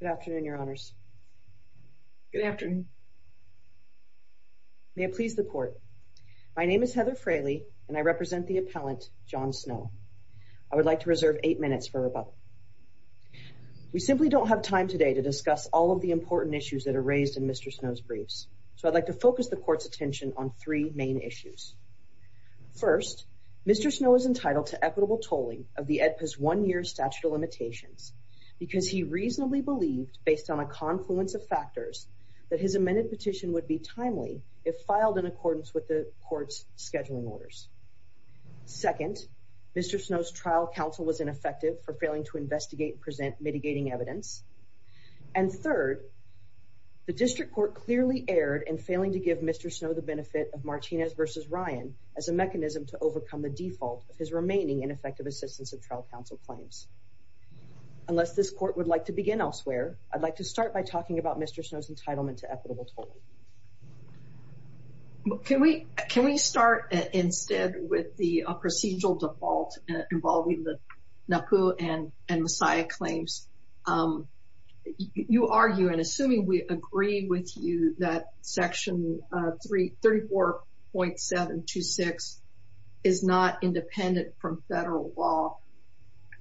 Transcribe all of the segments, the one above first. Good afternoon, Your Honours. Good afternoon. May it please the Court. My name is Heather Fraley, and I represent the appellant, John Snow. I would like to reserve eight minutes for rebuttal. We simply don't have time today to discuss all of the important issues that are raised in Mr. Snow's briefs, so I'd like to focus the Court's attention on three main issues. First, Mr. Snow is entitled to equitable tolling of the AEDPA's one-year statute of limitations because he reasonably believed, based on a confluence of factors, that his amended petition would be timely if filed in accordance with the Court's scheduling orders. Second, Mr. Snow's trial counsel was ineffective for failing to investigate and present mitigating evidence. And third, the District Court clearly erred in failing to give Mr. Snow the benefit of Martinez v. Ryan as a mechanism to overcome the default of his remaining ineffective assistance of trial counsel claims. Unless this Court would like to begin elsewhere, I'd like to start by talking about Mr. Snow's entitlement to equitable tolling. Can we start instead with the procedural default involving the NAPU and Messiah claims? You argue, and assuming we agree with you, that Section 34.726 is not independent from federal law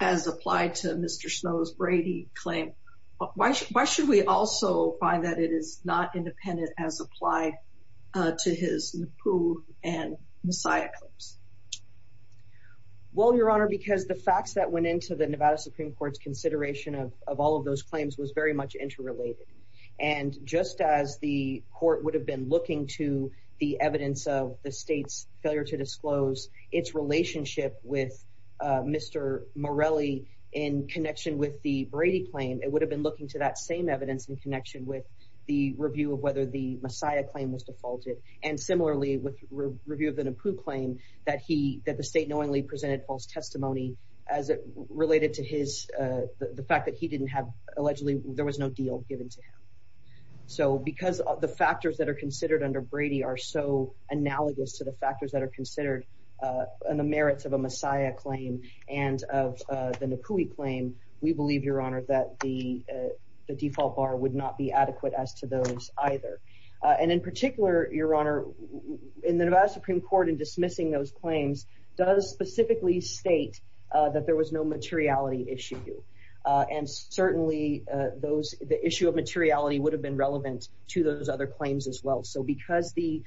as applied to Mr. Snow's Brady claim. Why should we also find that it is not independent as applied to his NAPU and Messiah claims? Well, Your Honor, because the facts that went into the Nevada Supreme Court's consideration of all of those claims was very much interrelated. And just as the Court would have been looking to the evidence of the State's failure to disclose its relationship with Mr. Morelli in connection with the Brady claim, it would have been looking to that same evidence in connection with the review of whether the Messiah claim was defaulted. And similarly, with review of the NAPU claim, that the State knowingly presented false testimony as it related to the fact that he didn't have, allegedly, there was no deal given to him. So because the factors that are considered under Brady are so analogous to the factors that are considered in the merits of a Messiah claim and of the NAPUI claim, we believe, Your Honor, that the default bar would not be adequate as to those either. And in particular, Your Honor, in the Nevada Supreme Court, in dismissing those claims, does specifically state that there was no materiality issue. And certainly, the issue of materiality would have been relevant to those other claims as well. So because the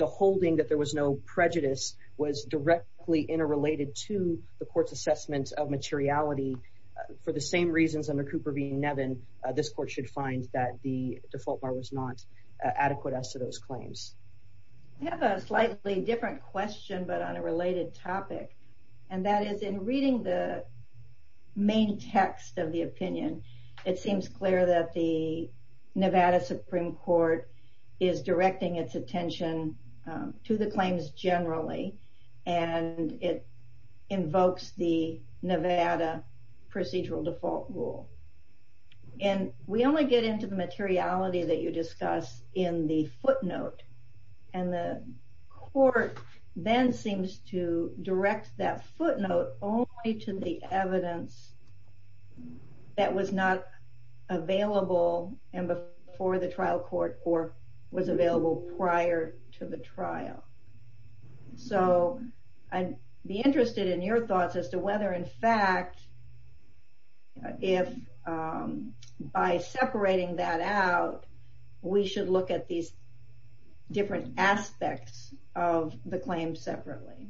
holding that there was no prejudice was directly interrelated to the Court's assessment of materiality, for the same reasons under Cooper v. Nevin, this Court should find that the default bar was not adequate as to those claims. I have a slightly different question, but on a related topic. And that is, in reading the main text of the opinion, it seems clear that the Nevada Supreme Court is directing its attention to the claims generally. And it invokes the Nevada procedural default rule. And we only get into the materiality that you discuss in the footnote. And the Court then seems to direct that footnote only to the evidence that was not available before the trial court or was available prior to the trial. So, I'd be interested in your thoughts as to whether in fact, if by separating that out, we should look at these different aspects of the claims separately.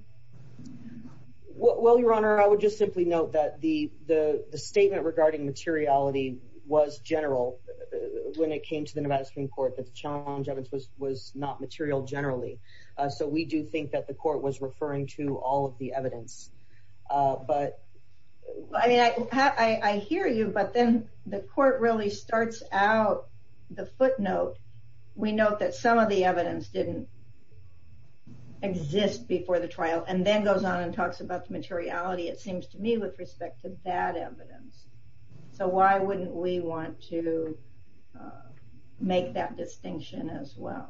Well, Your Honor, I would just simply note that the statement regarding materiality was general when it came to the Nevada Supreme Court, that the challenge of it was not material generally. So we do think that the Court was referring to all of the evidence. I mean, I hear you, but then the Court really starts out the footnote. We note that some of the evidence didn't exist before the trial and then goes on and talks about the materiality, it seems to me, with respect to that evidence. So why wouldn't we want to make that distinction as well?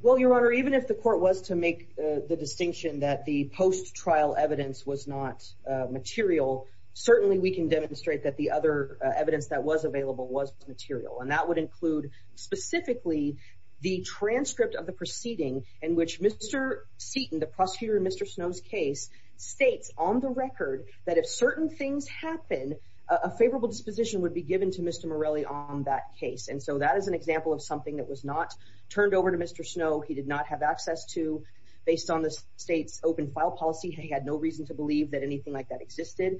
Well, Your Honor, even if the Court was to make the distinction that the post-trial evidence was not material, certainly we can demonstrate that the other evidence that was available was material. And that would include specifically the transcript of the proceeding in which Mr. Seaton, the prosecutor in Mr. Snow's case, states on the record that if certain things happen, a favorable disposition would be given to Mr. Morelli on that case. And so that is an example of something that was not turned over to Mr. Snow. He did not have access to, based on the State's open file policy. He had no reason to believe that anything like that existed.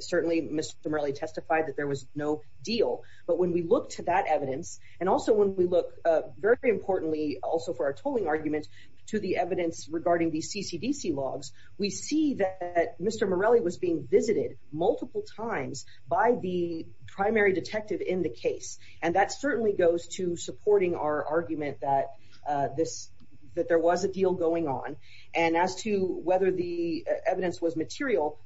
Certainly Mr. Morelli testified that there was no deal. But when we look to that evidence, and also when we look very importantly, also for our tolling argument, to the evidence regarding the CCDC logs, we see that Mr. Morelli was being visited multiple times by the primary detective in the case. And that certainly goes to supporting our argument that there was a deal going on. And as to whether the evidence was material,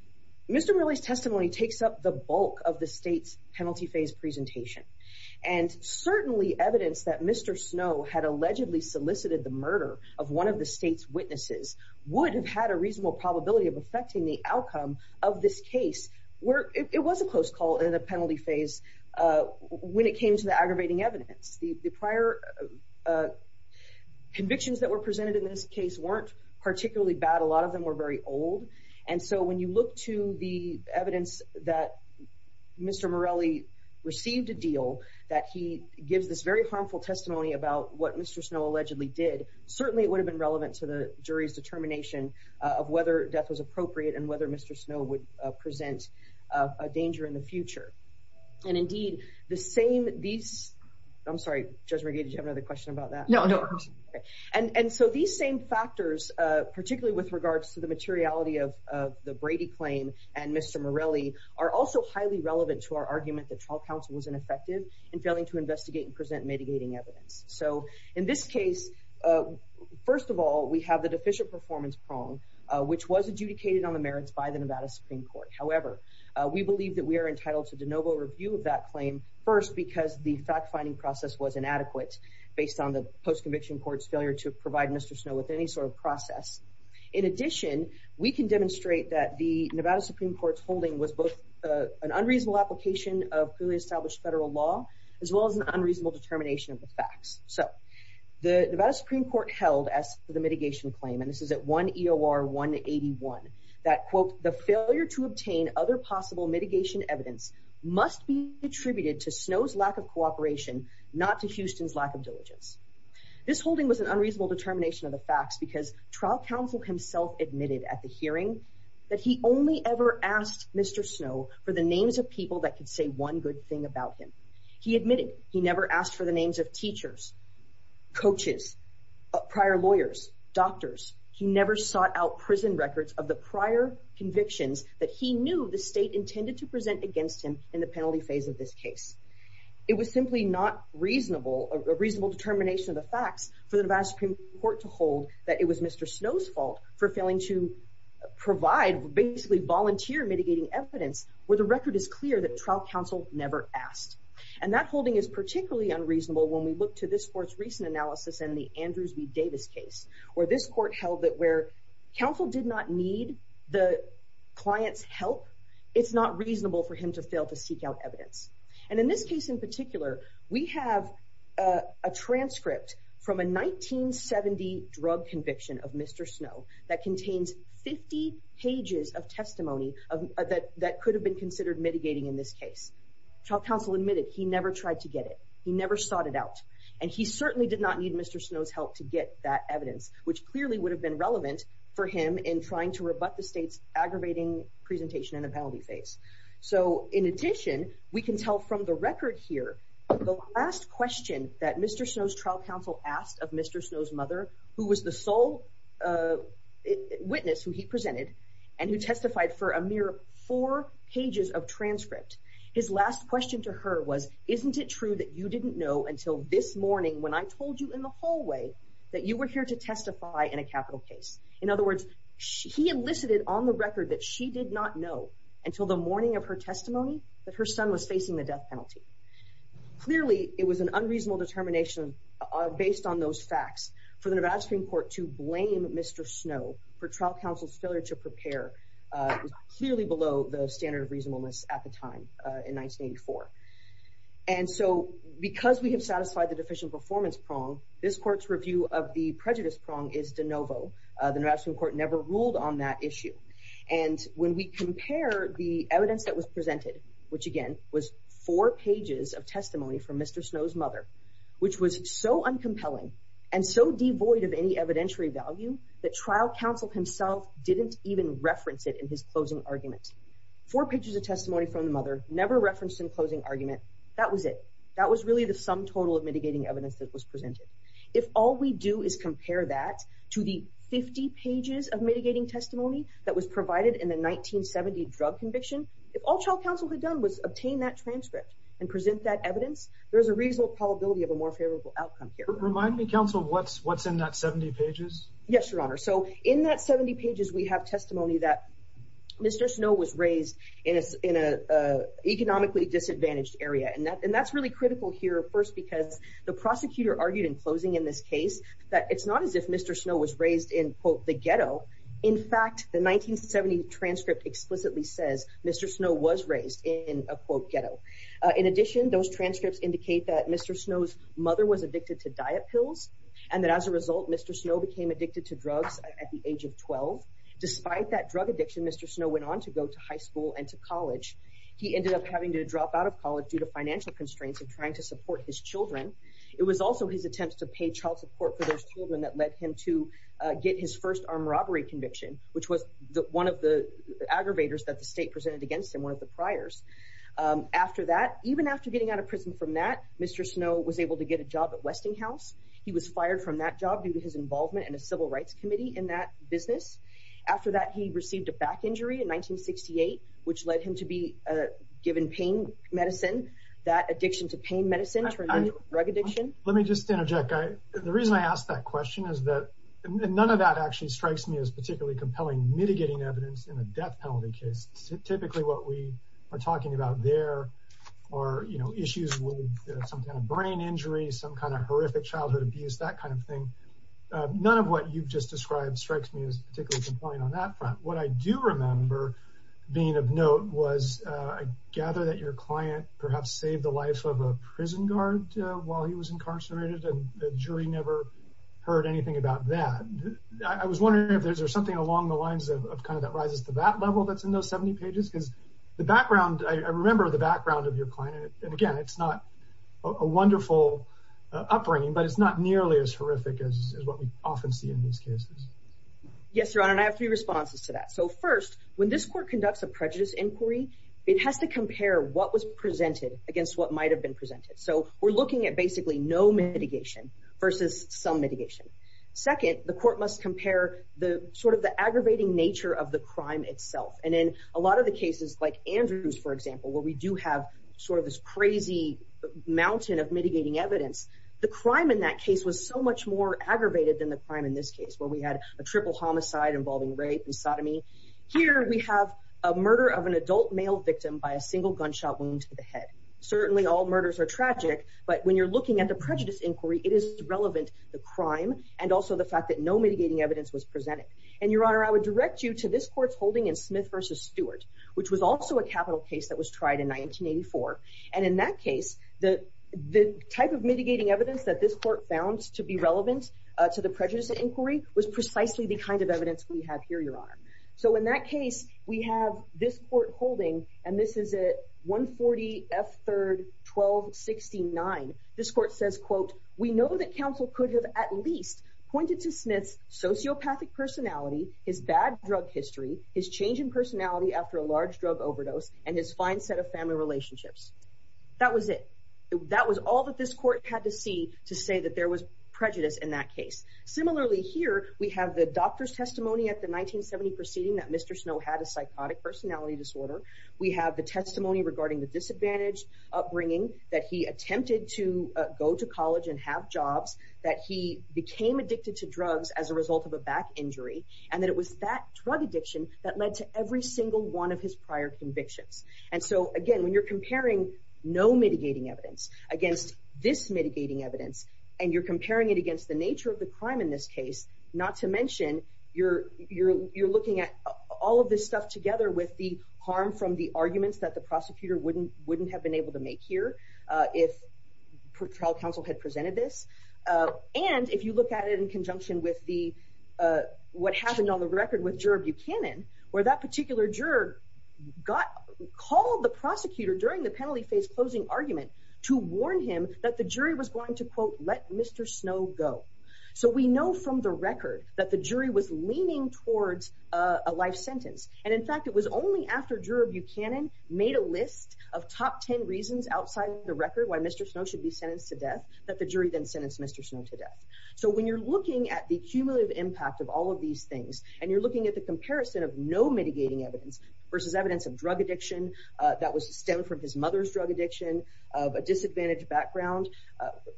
Mr. Morelli's testimony takes up the bulk of the State's penalty phase presentation. And certainly evidence that Mr. Snow had allegedly solicited the murder of one of the State's witnesses would have had a reasonable probability of affecting the outcome of this case. It was a close call in the penalty phase when it came to the aggravating evidence. The prior convictions that were presented in this case weren't particularly bad. A lot of them were very old. And so when you look to the evidence that Mr. Morelli received a deal, that he gives this very harmful testimony about what Mr. Snow allegedly did, certainly it would have been relevant to the jury's determination of whether death was appropriate and whether Mr. Snow would present a danger in the future. And indeed, the same... I'm sorry, Judge McGee, did you have another question about that? No, no. And so these same factors, particularly with regards to the materiality of the Brady claim and Mr. Morelli, are also highly relevant to our argument that trial counsel was ineffective in failing to investigate and present mitigating evidence. So in this case, first of all, we have the deficient performance prong, which was adjudicated on the merits by the Nevada Supreme Court. However, we believe that we are entitled to de novo review of that claim, first because the fact-finding process was inadequate based on the post-conviction court's failure to provide Mr. Snow with any sort of process. In addition, we can demonstrate that the Nevada Supreme Court's holding was both an unreasonable application of clearly established federal law as well as an unreasonable determination of the facts. So the Nevada Supreme Court held, as for the mitigation claim, that he attributed to Snow's lack of cooperation, not to Houston's lack of diligence. This holding was an unreasonable determination of the facts because trial counsel himself admitted at the hearing that he only ever asked Mr. Snow for the names of people that could say one good thing about him. He admitted he never asked for the names of teachers, coaches, prior lawyers, doctors. He never sought out prison records of the prior convictions that he knew the state intended to present against him in the penalty phase of this case. It was simply not reasonable, a reasonable determination of the facts for the Nevada Supreme Court to hold that it was Mr. Snow's fault for failing to provide, basically volunteer mitigating evidence where the record is clear that trial counsel never asked. And that holding is particularly unreasonable when we look to this court's recent analysis in the Andrews v. Davis case, where this court held that where counsel did not need the client's help, it's not reasonable for him to fail to seek out evidence. And in this case in particular, we have a transcript from a 1970 drug conviction of Mr. Snow that contains 50 pages of testimony that could have been considered mitigating in this case. Trial counsel admitted he never tried to get it. He never sought it out. And he certainly did not need Mr. Snow's help to get that evidence, which clearly would have been relevant for him in trying to rebut the state's aggravating presentation in the penalty phase. So in addition, we can tell from the record here, the last question that Mr. Snow's trial counsel asked of Mr. Snow's mother, who was the sole witness who he presented and who testified for a mere four pages of transcript, his last question to her was, isn't it true that you didn't know until this morning when I told you in the hallway that you were here to testify in a capital case? In other words, he elicited on the record that she did not know until the morning of her testimony that her son was facing the death penalty. Clearly, it was an unreasonable determination based on those facts for the Nevada Supreme Court to blame Mr. Snow for trial counsel's failure to prepare. It was clearly below the standard of reasonableness at the time in 1984. And so because we have satisfied the deficient performance prong, this court's review of the prejudice prong is de novo. The Nevada Supreme Court never ruled on that issue. And when we compare the evidence that was presented, which again was four pages of testimony from Mr. Snow's mother, which was so uncompelling and so devoid of any evidentiary value that trial counsel himself didn't even reference it in his closing argument. Four pages of testimony from the mother, never referenced in closing argument. That was it. That was really the sum total of mitigating evidence that was presented. If all we do is compare that to the 50 pages of mitigating testimony that was provided in the 1970 drug conviction, if all trial counsel had done was obtain that transcript and present that evidence, there's a reasonable probability of a more favorable outcome here. Remind me, counsel, what's in that 70 pages? Yes, Your Honor. So in that 70 pages, we have testimony that Mr. Snow was raised in an economically disadvantaged area. And that's really critical here first because the prosecutor argued in closing in this case that it's not as if Mr. Snow was raised in, quote, the ghetto. In fact, the 1970 transcript explicitly says Mr. Snow was raised in a, quote, ghetto. In addition, those transcripts indicate that Mr. Snow's mother was addicted to diet pills and that as a result, Mr. Snow became addicted to drugs at the age of 12. Despite that drug addiction, Mr. Snow went on to go to high school and to college. He ended up having to drop out of college due to financial constraints and trying to support his children. It was also his attempts to pay child support for those children that led him to get his first armed robbery conviction, which was one of the aggravators that the state presented against him, one of the priors. After that, even after getting out of prison from that, Mr. Snow was able to get a job at Westinghouse. He was fired from that job due to his involvement in a civil rights committee in that business. After that, he received a back injury in 1968, which led him to be given pain medicine. That addiction to pain medicine turned into drug addiction. Let me just interject. The reason I ask that question is that none of that actually strikes me as particularly compelling mitigating evidence in a death penalty case. Typically what we are talking about there are, you know, issues with some kind of brain injury, some kind of horrific childhood abuse, that kind of thing. None of what you've just described strikes me as particularly compelling on that front. What I do remember being of note was, I gather that your client perhaps saved the life of a prison guard while he was incarcerated, and the jury never heard anything about that. I was wondering if there's something along the lines of kind of that rises to that level that's in those 70 pages, because the background, I remember the background of your client, and again, it's not a wonderful upbringing, but it's not nearly as horrific as what we often see in these cases. Yes, Your Honor, and I have three responses to that. So first, when this court conducts a prejudice inquiry, it has to compare what was presented against what might have been presented. So we're looking at basically no mitigation versus some mitigation. Second, the court must compare the sort of the aggravating nature of the crime itself, and in a lot of the cases like Andrew's, for example, where we do have sort of this crazy mountain of mitigating evidence, the crime in that case was so much more aggravated than the crime in this case, where we had a triple homicide involving rape and sodomy. Here we have a murder of an adult male victim by a single gunshot wound to the head. Certainly all murders are tragic, but when you're looking at the prejudice inquiry, it is relevant, the crime, and also the fact that no mitigating evidence was presented. And Your Honor, I would direct you to this court's holding in Smith v. Stewart, which was also a capital case that was tried in 1984, and in that case, the type of mitigating evidence that this court found to be relevant to the prejudice inquiry was precisely the kind of evidence we have here, Your Honor. So in that case, we have this court holding, and this is at 140 F. 3rd 1269. This court says, quote, We know that counsel could have at least pointed to Smith's sociopathic personality, his bad drug history, his change in personality after a large drug overdose, and his fine set of family relationships. That was it. That was all that this court had to see regarding prejudice in that case. Similarly here, we have the doctor's testimony at the 1970 proceeding that Mr. Snow had a psychotic personality disorder. We have the testimony regarding the disadvantaged upbringing, that he attempted to go to college and have jobs, that he became addicted to drugs as a result of a back injury, and that it was that drug addiction that led to every single one of his prior convictions. And so, again, when you're comparing no mitigating evidence against this mitigating evidence, and you're comparing it against the nature of the crime in this case, not to mention you're looking at all of this stuff together with the harm from the arguments that the prosecutor wouldn't have been able to make here if trial counsel had presented this. And if you look at it in conjunction with what happened on the record with Juror Buchanan, where that particular juror called the prosecutor during the penalty phase closing argument to warn him that the jury was going to, quote, let Mr. Snow go. So we know from the record that the jury was leaning towards a life sentence. And in fact, it was only after Juror Buchanan made a list of top 10 reasons outside of the record why Mr. Snow should be sentenced to death that the jury then sentenced Mr. Snow to death. So when you're looking at the cumulative impact of all of these things, and you're looking at the comparison of no mitigating evidence versus evidence of drug addiction that was stemmed from his mother's drug addiction, of a disadvantaged background,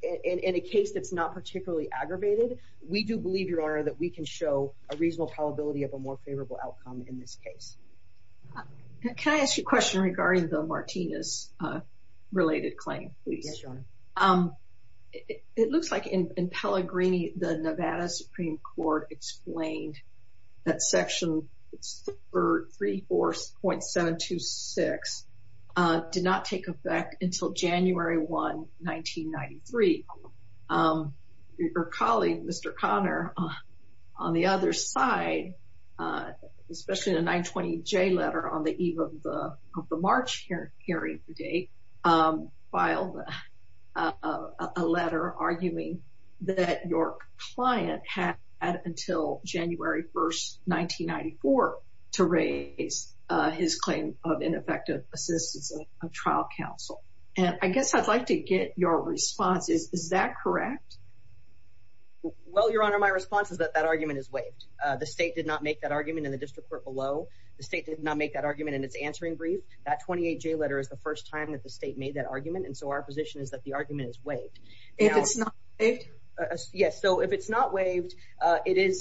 in a case that's not particularly aggravated, we do believe, Your Honor, that we can show a reasonable probability of a more favorable outcome in this case. Can I ask you a question regarding the Martinez-related claim, please? Yes, Your Honor. It looks like in Pellegrini, the Nevada Supreme Court explained that Section 34.726 did not take effect until January 1, 1993. Your colleague, Mr. Conner, on the other side, especially in the 920J letter on the eve of the March hearing today, filed a letter arguing that your client had until January 1, 1993 or January 1, 1994 to raise his claim of ineffective assistance of trial counsel. I guess I'd like to get your response. Is that correct? Well, Your Honor, my response is that that argument is waived. The state did not make that argument in the district court below. The state did not make that argument in its answering brief. That 28J letter is the first time that the state made that argument, and so our position is that it is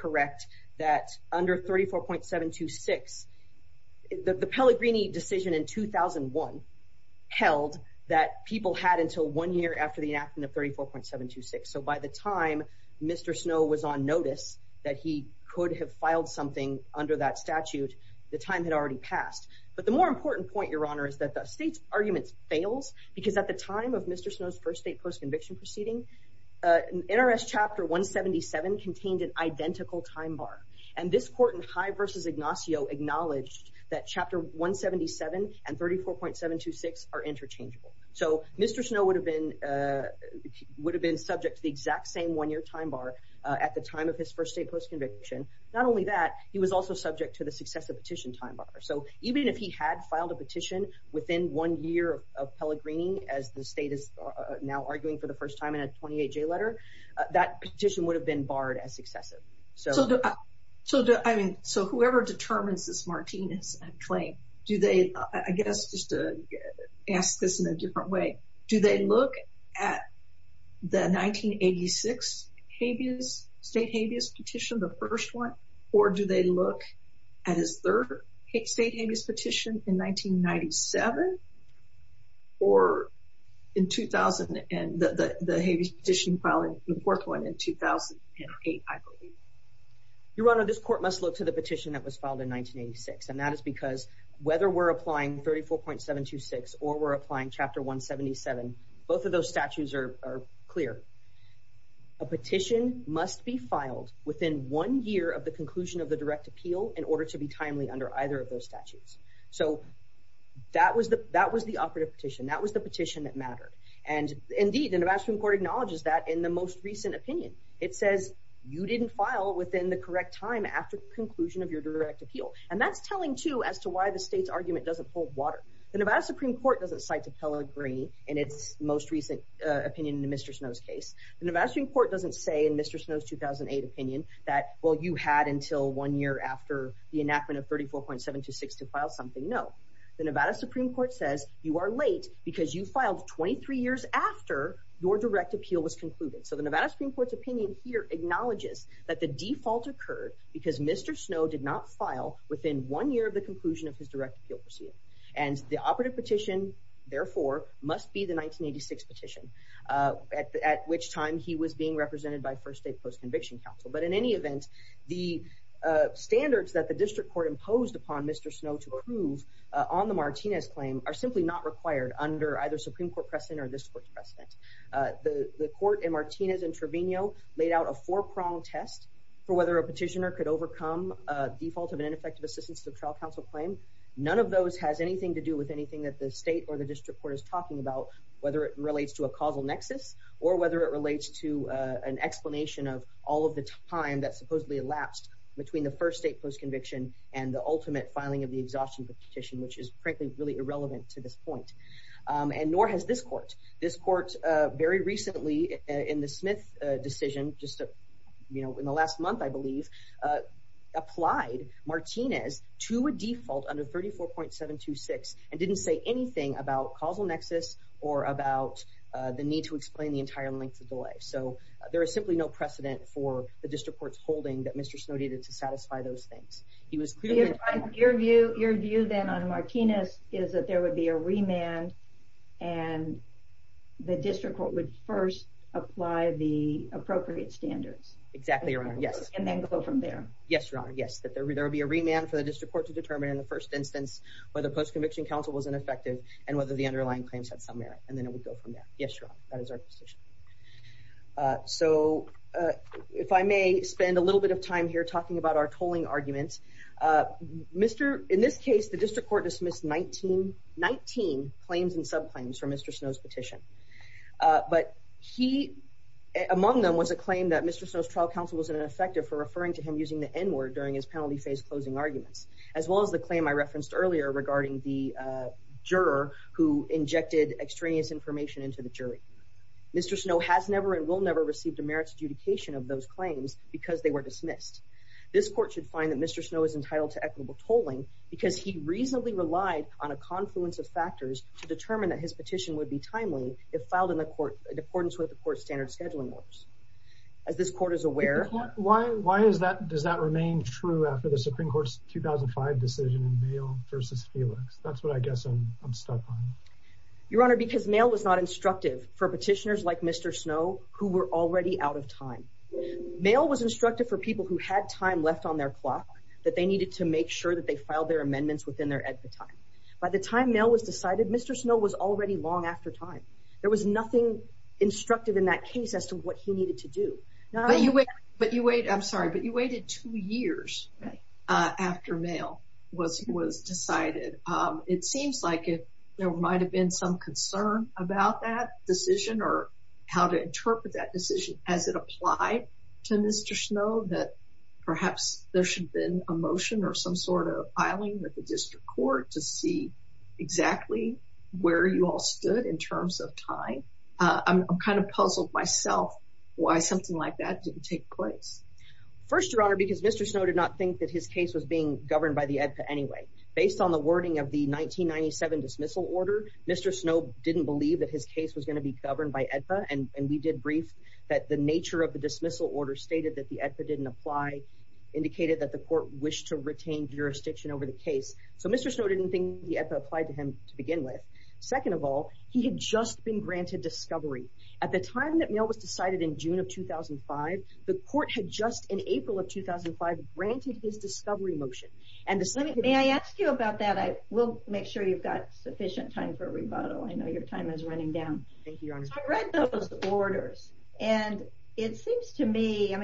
correct that under 34.726, the Pellegrini decision in 2001 held that people had until one year after the enactment of 34.726. So by the time Mr. Snow was on notice that he could have filed something under that statute, the time had already passed. But the more important point, Your Honor, is that the state's argument fails because at the time of Mr. Snow's first state post-conviction proceeding, NRS Chapter 177 contained an identical time bar. And this court in High v. Ignacio acknowledged that Chapter 177 and 34.726 are interchangeable. So Mr. Snow would have been would have been subject to the exact same one-year time bar at the time of his first state post-conviction. Not only that, he was also subject to the successive petition time bar. So even if he had filed a petition within one year of Pellegrini, as the state is now arguing in the 28-J letter, that petition would have been barred as successive. So whoever determines this Martinez claim, do they, I guess, just to ask this in a different way, do they look at the 1986 state habeas petition, the first one, or do they look at his third state habeas petition in 1997 or in 2000, the habeas petition filing the fourth one in 2008? Your Honor, this court must look to the petition that was filed in 1986. And that is because whether we're applying 34.726 or we're applying Chapter 177, both of those statutes are clear. A petition must be filed within one year of the conclusion of the direct appeal in order to be timely under either of those statutes. So that was the operative petition. That was the petition that mattered. And indeed, the Nevada Supreme Court acknowledges that in the most recent opinion. It says, you didn't file within the correct time after the conclusion of your direct appeal. And that's telling, too, as to why the state's argument doesn't hold water. The Nevada Supreme Court doesn't cite to Pellegrini in its most recent opinion in the Mr. Snow's case. The Nevada Supreme Court doesn't say in Mr. Snow's 2008 opinion that, well, you had until one year after the enactment of 34.726 to file something. No. The Nevada Supreme Court says you are late because you filed 23 years after your direct appeal was concluded. So the Nevada Supreme Court's opinion here acknowledges that the default occurred because Mr. Snow did not file within one year of the conclusion of his direct appeal proceeding. And the operative petition, therefore, must be the 1986 petition, at which time he was being represented by First State Post-Conviction Council. But in any event, the standards that the district court imposed upon Mr. Snow to prove on the Martinez claim are simply not required under either Supreme Court precedent or this court's precedent. The court in Martinez and Trevino laid out a four-pronged test for whether a petitioner could overcome a default of an ineffective assistance to the trial counsel claim. None of those has anything to do with anything that the state or the district court is talking about, whether it relates to a causal nexus or whether it relates to an explanation of all of the time that supposedly elapsed between the First State Post-Conviction and the ultimate filing of the exhaustion petition, which is frankly really irrelevant to this point. And nor has this court. This court very recently in the Smith decision, just in the last month, I believe, applied Martinez to a default under 34.726 and didn't say anything about causal nexus or about the need to explain the entire length of delay. So there is simply no precedent for the district court's holding that Mr. Snow needed to satisfy those things. Your view then on Martinez is that there would be a remand and the district court would first apply the appropriate standards. Exactly, Your Honor, yes. And then go from there. Yes, Your Honor, yes. That there would be a remand for the district court to determine in the first instance whether post-conviction counsel was ineffective and whether the underlying claims had some merit. And then it would go from there. Yes, Your Honor, that is our position. So if I may spend a little bit of time here talking about our tolling arguments Mr. In this case, the district court dismissed 19 claims and subclaims from Mr. Snow's petition. But he among them was a claim that Mr. Snow's trial counsel was ineffective for referring to him using the N word during his penalty phase closing arguments as well as the claim I referenced earlier regarding the juror who injected extraneous information into the jury. Mr. Snow has never and will never received a merits adjudication of those claims because they were dismissed. This court should find that Mr. Snow is entitled to equitable tolling because he reasonably relied on a confluence of factors to determine that his petition would be timely if filed in accordance with the court's standard scheduling orders. As this court is aware Why does that remain true after the Supreme Court's 2005 decision in Mayall v. Felix? That's what I guess I'm stuck on. Your Honor, because Mayall was not instructive for petitioners like Mr. Snow who were already out of time. Mayall was instructive for people who had time left on their clock that they needed to make sure that they filed their amendments within their expiry time. By the time Mayall was decided, Mr. Snow was already long after time. There was nothing instructive in that case as to what he needed to do. But you waited I'm sorry, but you waited two years after Mayall was decided. It seems like there might have been some concern about that decision or how to interpret that decision as it applied to Mr. Snow that perhaps there should have been a motion or some sort of filing with the District Court to see exactly where you all stood in terms of time. I'm kind of puzzled myself why something like that didn't take place. First, Your Honor, because Mr. Snow did not think that his case was being governed by the AEDPA anyway. Based on the wording of the 1997 dismissal order, Mr. Snow didn't believe that his case was going to be governed by AEDPA and we did brief that the nature of the dismissal order stated that the AEDPA didn't apply, indicated that the court wished to retain jurisdiction over the case. So Mr. Snow didn't think that the AEDPA applied to him to begin with. Second of all, he had just been granted discovery. At the time that Mayall was decided in June of 2005, the court had just in April of 2005 granted his discovery motion. May I ask you about that? We'll make sure you've got sufficient time for rebuttal. I know your time is running down. I read those orders and it seems to me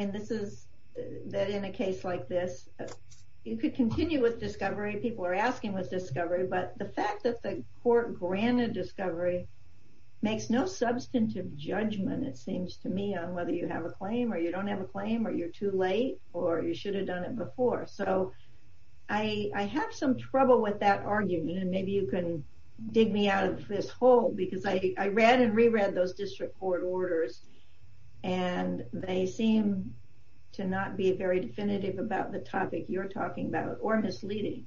that in a case like this you could continue with discovery, people are asking with discovery, but the fact that the court granted discovery makes no substantive judgment it seems to me on whether you have a claim or you don't have a claim or you're too late or you should have done it before. So I have some trouble with that argument and maybe you can dig me out of this hole because I read and reread those district court orders and they seem to not be very definitive about the topic you're talking about or misleading.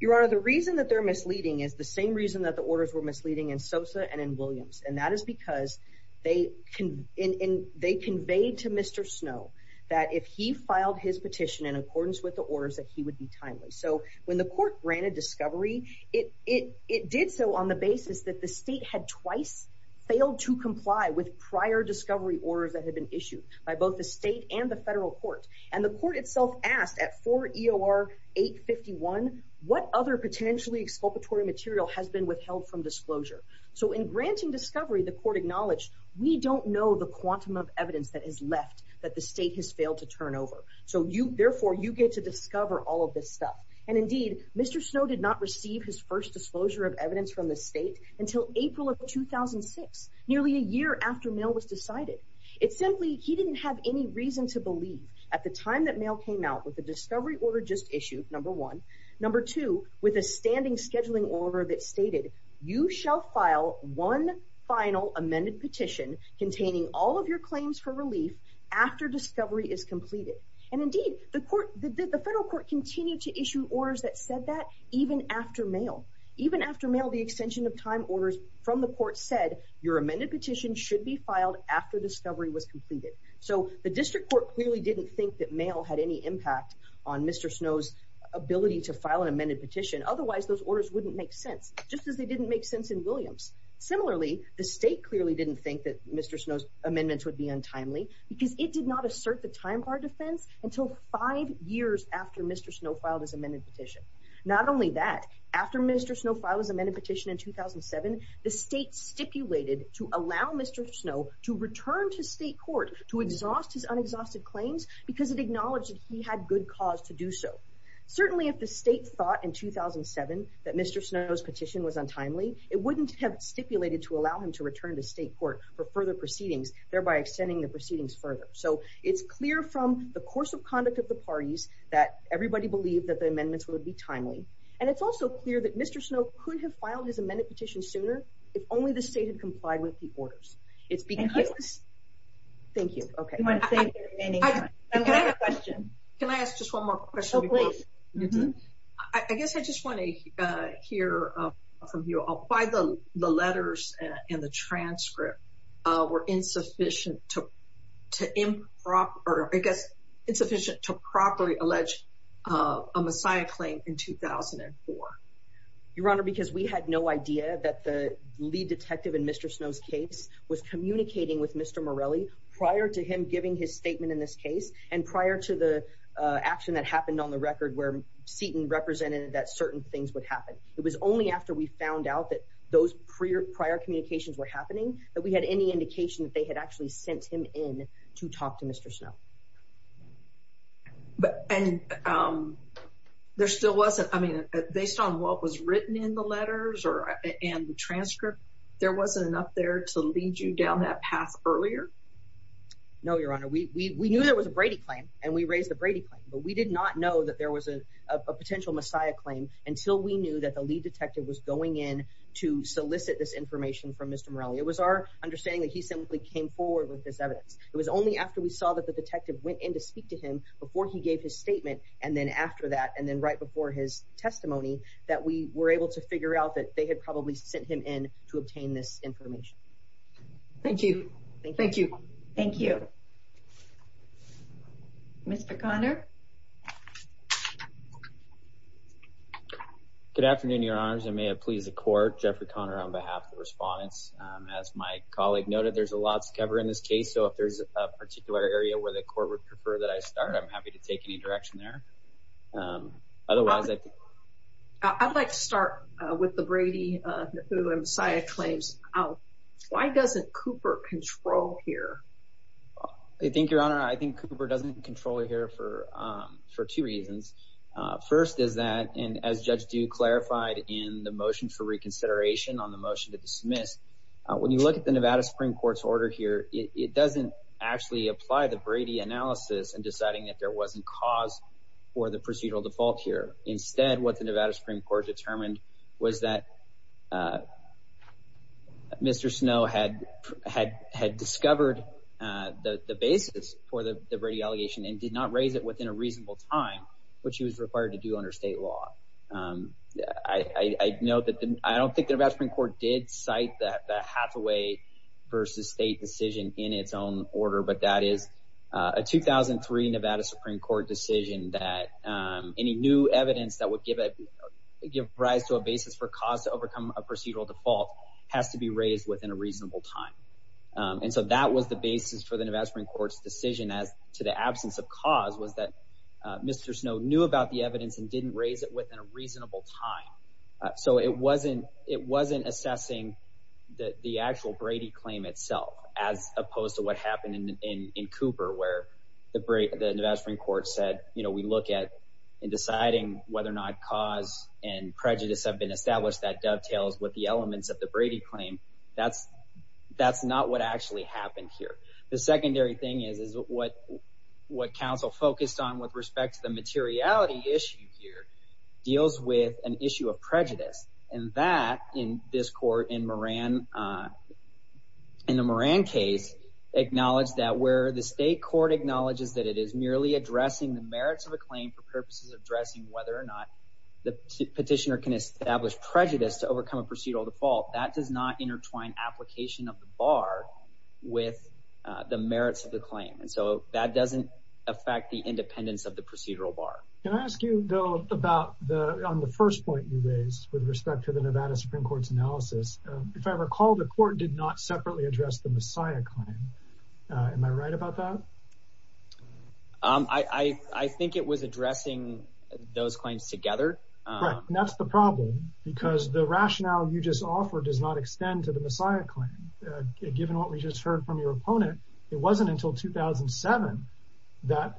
Your Honor, the reason that they're misleading is the same reason that the orders were misleading in Sosa and in Williams and that is because they conveyed to Mr. Snow that if he filed his petition in accordance with the orders that he would be timely. So when the court granted discovery it did so on the basis that the state had twice failed to comply with prior discovery orders that had been issued by both the state and the federal court and the court itself asked at 4 EOR 851 what other potentially exculpatory material has been withheld from disclosure. So in granting discovery the court acknowledged we don't know the quantum of evidence that has left that the state has failed to turn over. So therefore you get to discover all of this stuff and indeed Mr. Snow did not receive his first disclosure of evidence from the state until April of 2006 nearly a year after mail was decided. It's simply he didn't have any reason to believe at the time that mail came out with the discovery order just issued number one number two with a standing scheduling order that stated you shall file one final amended petition containing all of your claims for relief after discovery is completed and indeed the federal court continued to issue orders that said that even after mail. Even after mail the extension of time orders from the court said your amended petition should be filed after discovery was completed. So the district court clearly didn't think that mail had any impact on Mr. Snow's ability to file an amended petition otherwise those orders wouldn't make sense just as they didn't make sense in Williams. Similarly the state clearly didn't think that Mr. Snow's amendments would be untimely because it did not assert the time bar defense until five years after Mr. Snow filed his amended petition. Not only that after Mr. Snow filed his amended petition in 2007 the state stipulated to allow Mr. Snow to return to state court to exhaust his unexhausted claims because it acknowledged that he had good cause to do so. Certainly if the state thought in 2007 that Mr. Snow's petition was untimely it wouldn't have stipulated to allow him to return to state court for further proceedings thereby extending the proceedings further. So it's clear from the course of conduct of the parties that everybody believed that the amendments would be timely and it's also clear that Mr. Snow could have filed his amended petition sooner if only the state had complied with the orders. It's because... Thank you. Thank you. Okay. I'm going to take the remaining time. I have a question. Can I ask just one more question? Oh please. I guess I just want to hear from you why the letters were insufficient to improper or I guess insufficient to properly allege a Messiah claim in 2004. Your Honor because we had no idea that the that the that the lead detective in Mr. Snow's case was communicating with Mr. Morelli prior to him giving his statement in this case and prior to the action that happened on the record where Seton represented that certain things would happen. It was only after we found out that those prior communications were happening that we had any indication that they had actually sent him in to talk to Mr. Snow. But and there still wasn't I mean based on what was written in the letters or and transcript there wasn't enough there to lead you down that path earlier? No Your Honor we knew there was a Brady claim and we raised a Brady claim but we did not know that there was a potential Messiah claim until we knew that the lead detective was going in to solicit this information from Mr. Morelli. It was our understanding that he simply came forward with this evidence. It was only after we saw that the detective went in to speak to him before he gave his statement and then after that and then right before his testimony that we were able to figure out that they had probably sent him in to obtain this information. Thank you. Thank you. Thank you. Mr. Conner. Good afternoon Your Honors. I may have pleased the court. Jeffrey Conner on behalf of the respondents. As my colleague noted there's a lot to cover in this case so if there's a particular area where the court would prefer that I start I'm happy to take any direction there. Otherwise I think I'd like to start with the Brady who Messiah claims out. Why doesn't Cooper control here? I think Your Honor I think Cooper doesn't control here for two reasons. First is that and as Judge Dew clarified in the motion for reconsideration on the motion to dismiss when you look at the Nevada Supreme Court's order here it doesn't actually apply the Brady analysis in deciding that there wasn't cause for the procedural default here. Instead what the Nevada Supreme Court determined was that Mr. Snow had discovered the basis for the Brady allegation and did not raise it within a reasonable time which he was required to do under state law. I don't think the Nevada Supreme Court did cite that Hathaway versus state decision in its own order but that is a 2003 Nevada Supreme Court decision that any new evidence that would give rise to a basis for cause to overcome a procedural default has to be raised within a reasonable time. So that was the basis for the Nevada Supreme Court's decision as to the absence of cause was that Mr. Snow knew about the evidence and didn't raise it within a reasonable time. So it wasn't assessing the actual Brady claim itself as opposed to what happened in Cooper where the Nevada Supreme Court said we look at deciding whether or not cause and prejudice have been established that dovetails with the elements of the Brady claim. That's not what actually happened here. The secondary thing is what counsel focused on with respect to the materiality issue here deals with an issue of prejudice and that in this court in the Moran case acknowledged that where the state court acknowledges that it is merely addressing the merits of a claim for purposes of addressing whether or not the petitioner can establish prejudice to overcome a procedural default. That does not intertwine application of the bar with the merits of the claim. So that doesn't affect the independence of the procedural bar. Can I ask you on the first point you raised with respect to the Nevada Supreme Court's analysis, if I recall the court did not separately address the Messiah claim. Am I right about that? I think it was addressing those claims together. That's the problem because the rationale you just offered does not extend to the Messiah claim. Given what we just heard from your opponent, it wasn't until 2007 that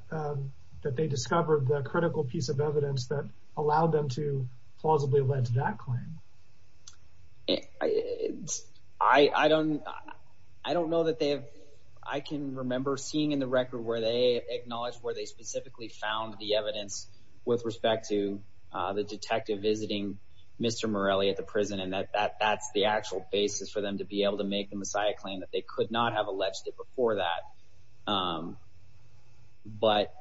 they discovered the critical piece of evidence that allowed them to plausibly lead to that claim. I don't know that they have I can remember seeing in the record where they acknowledged where they didn't acknowledge the Messiah claim, but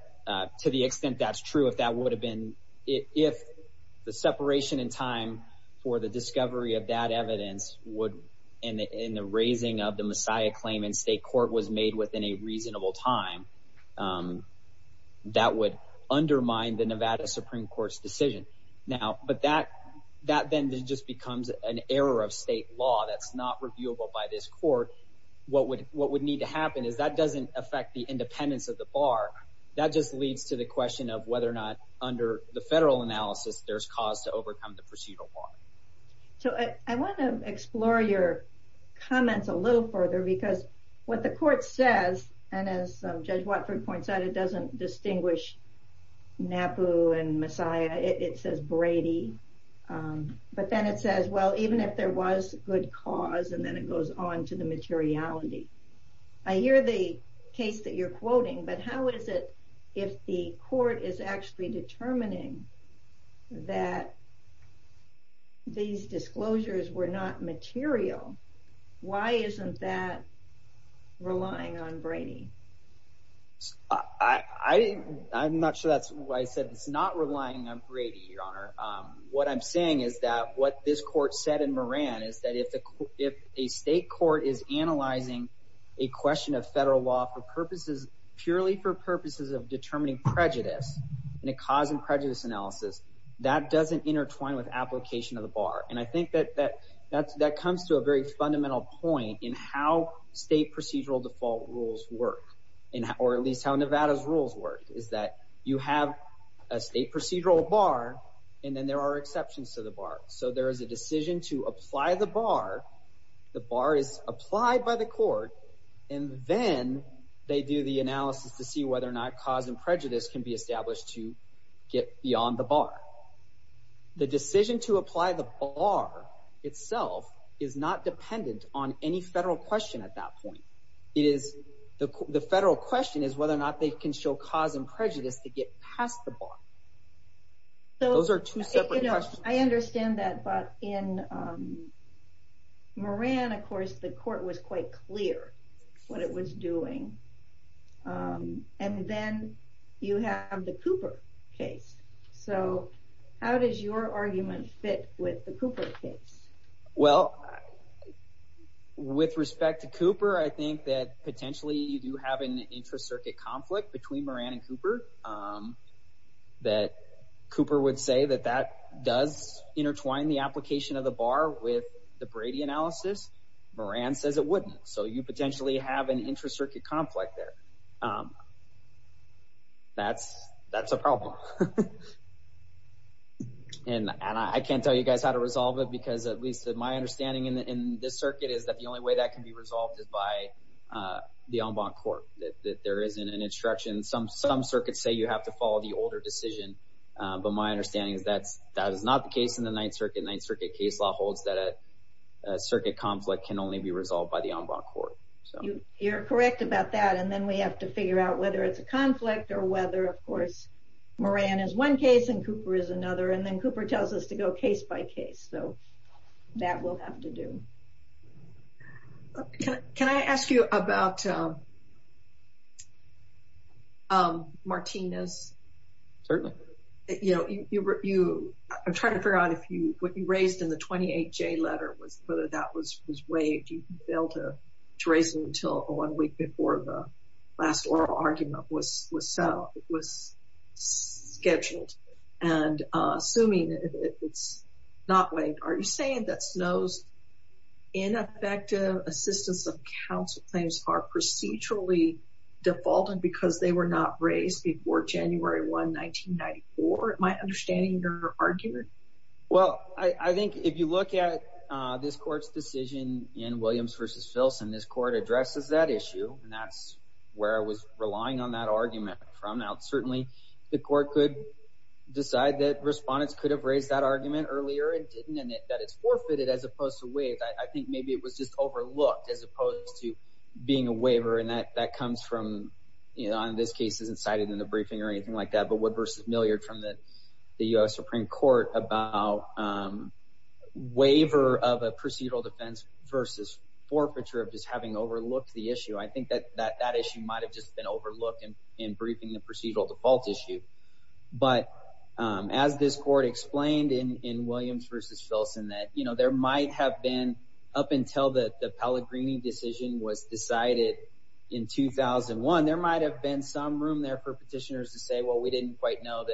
to the extent that is true, if the separation in time for the discovery of that evidence in the raising of the Messiah claim in state court was made within a reasonable time, that would undermine the Nevada Supreme Court's decision. But that then just becomes an error of state law that's not reviewable by this court. What would need to happen is that doesn't affect the independence of the bar. That just leads to the question of whether or not under the federal analysis there's cause to believe that the Messiah is the Messiah. I hear the case that you're quoting, but how is it if the court is actually determining that these disclosures were not material, why isn't that relying on Brady? I'm not sure that's why I said it's not relying on Brady, Your Honor. What I'm saying is what this court said in Moran is that if a state court is analyzing of federal law for purposes of determining prejudice in a cause and prejudice analysis, that doesn't intertwine with application of the bar. And I think that comes to a very fundamental point in how state procedural default rules work, or at least how Nevada's rules work, is that you have a state procedural bar, and then there are exceptions to the bar. So there is a decision to apply the bar, the bar is applied by the court, and then they do the analysis to see whether or not cause and prejudice can be established to get beyond the bar. The decision to apply the bar itself is not dependent on any federal question at that point. The federal question is whether or not they can show cause and prejudice to get past the bar. And then you have the Cooper case. So how does your argument fit with the Cooper case? Well, with respect to Cooper, I think that potentially you do have an intracircuit conflict between Moran and Cooper, that Cooper would say that that does intertwine the application of the bar with the Brady analysis. Moran says it wouldn't. So you potentially have an intracircuit conflict there. That's a problem. And I can't tell you guys how to resolve it because at least my understanding in this circuit is that the only way that can be resolved is by the ombud court. You're correct about that and then we have to figure out whether it's a conflict or whether of course Moran is one case and Cooper is another and then Cooper tells us to go case by case. So that will have to do. Can I ask you about Martinez? Certainly. I'm trying to figure out what you raised in the 28J letter was whether that was waived. You failed to raise it until one week before the last oral argument was scheduled. And assuming it's not waived, are you saying that Snow's ineffective assistance of counsel claims are procedurally defaulted because they were not raised before January 1, 1994? Am I understanding your argument? Well, I think if you look at this court's decision in Williams v. Filson, this court addresses that issue and that's where I was relying on that argument from. Now certainly the court could decide that respondents could have raised that I don't know if that comes from, you know, in this case isn't cited in the briefing or anything like that, but Wood v. Milliard from the U.S. Supreme Court about waiver of a procedural defense versus forfeiture of just having overlooked the issue. I think that that issue might have just been overlooked in briefing the procedural default issue, but as this court explained in Williams v. Filson that there might have been up until the Pellegrini decision was decided in 2001, there might have been some room there for petitioners to say, well, we didn't quite know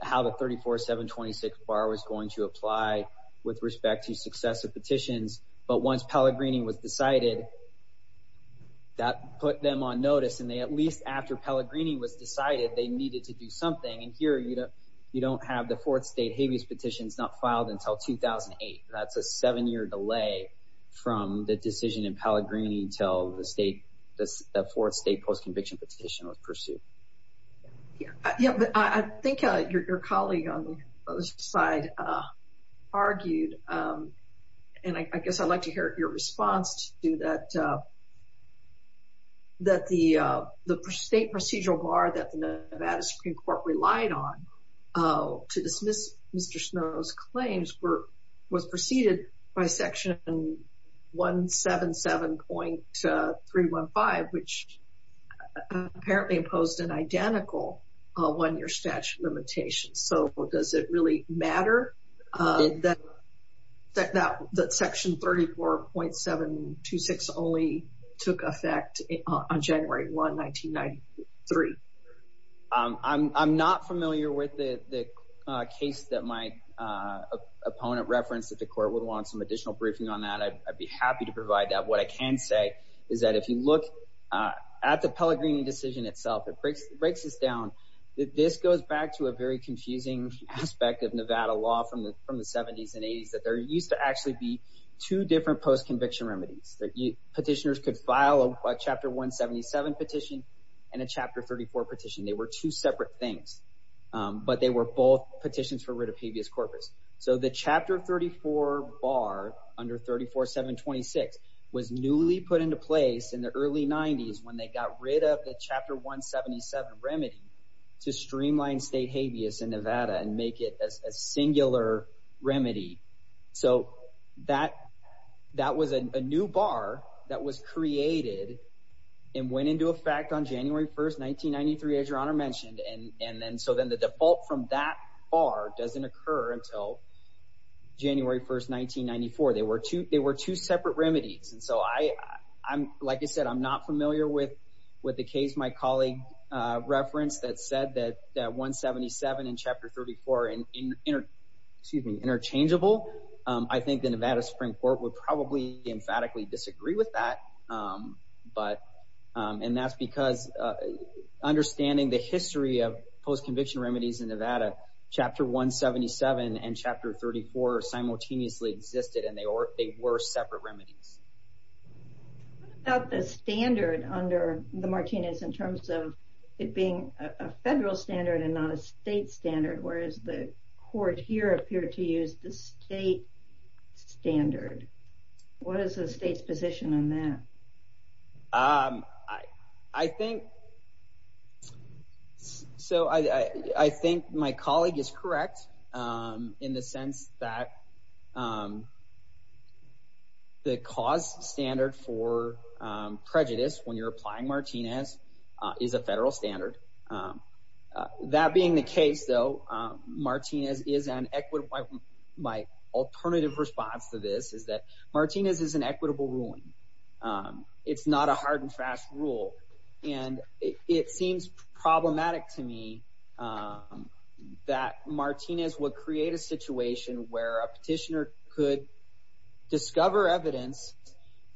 how the 34-7-26 bar was going to apply with respect to successive petitions, but once Pellegrini was decided, that put them on notice, and at least after Pellegrini was decided, they needed to do something, and here you don't have the fourth state habeas petition not filed until 2008. That's a seven-year delay from the decision in Pellegrini until the fourth state post-conviction petition was pursued. I think your colleague on the other side argued, and I guess I'd like to hear your response to that, that the state procedural bar that the Nevada Supreme Court relied on to dismiss Mr. Snow's claims was preceded by section 177.315, which apparently imposed an identical one-year statute limitation, so does it really matter that section 34.726 only took effect on January 1, 1993? I'm not familiar with the case that my opponent referenced don't know if the court would want additional briefing on that. I'd be happy to provide that. What I can say is that if you look at the Pellegrini decision itself, this goes back to a confusing aspect of Nevada law from the 70s and 80s, that there used to be two different post-conviction remedies. Petitioners could file a chapter 177 petition and a chapter 34 petition. They were two separate things, but they were both petitions for rid of habeas corpus. The chapter 34 bar under 34.726 was newly put into place in the early 90s when they got rid of the chapter 177 remedy to streamline state habeas in Nevada and make it a singular remedy. That was a new bar that was created and went into effect on January 1st, 1993, as your honor mentioned. The default from that bar doesn't occur until January 1st, 1994. They were two separate remedies. Like I said, I'm not familiar with the case my colleague referenced that said that 177 and chapter 34 are interchangeable. I think the Nevada Supreme Court would probably emphatically disagree with that. And that's because understanding the history of post conviction remedies in Nevada, chapter 177 and chapter 34 simultaneously existed and they were separate remedies. What about the standard under the Martinez in terms of it being a federal standard and not a state standard? What is the state's position on that? I think my colleague is correct in the sense that the cause standard for prejudice when you're applying Martinez is a federal standard. That being the case, though, Martinez is an equitable ruling. It's not a hard and fast rule. And it seems problematic to me that Martinez would create a situation where a petitioner could discover evidence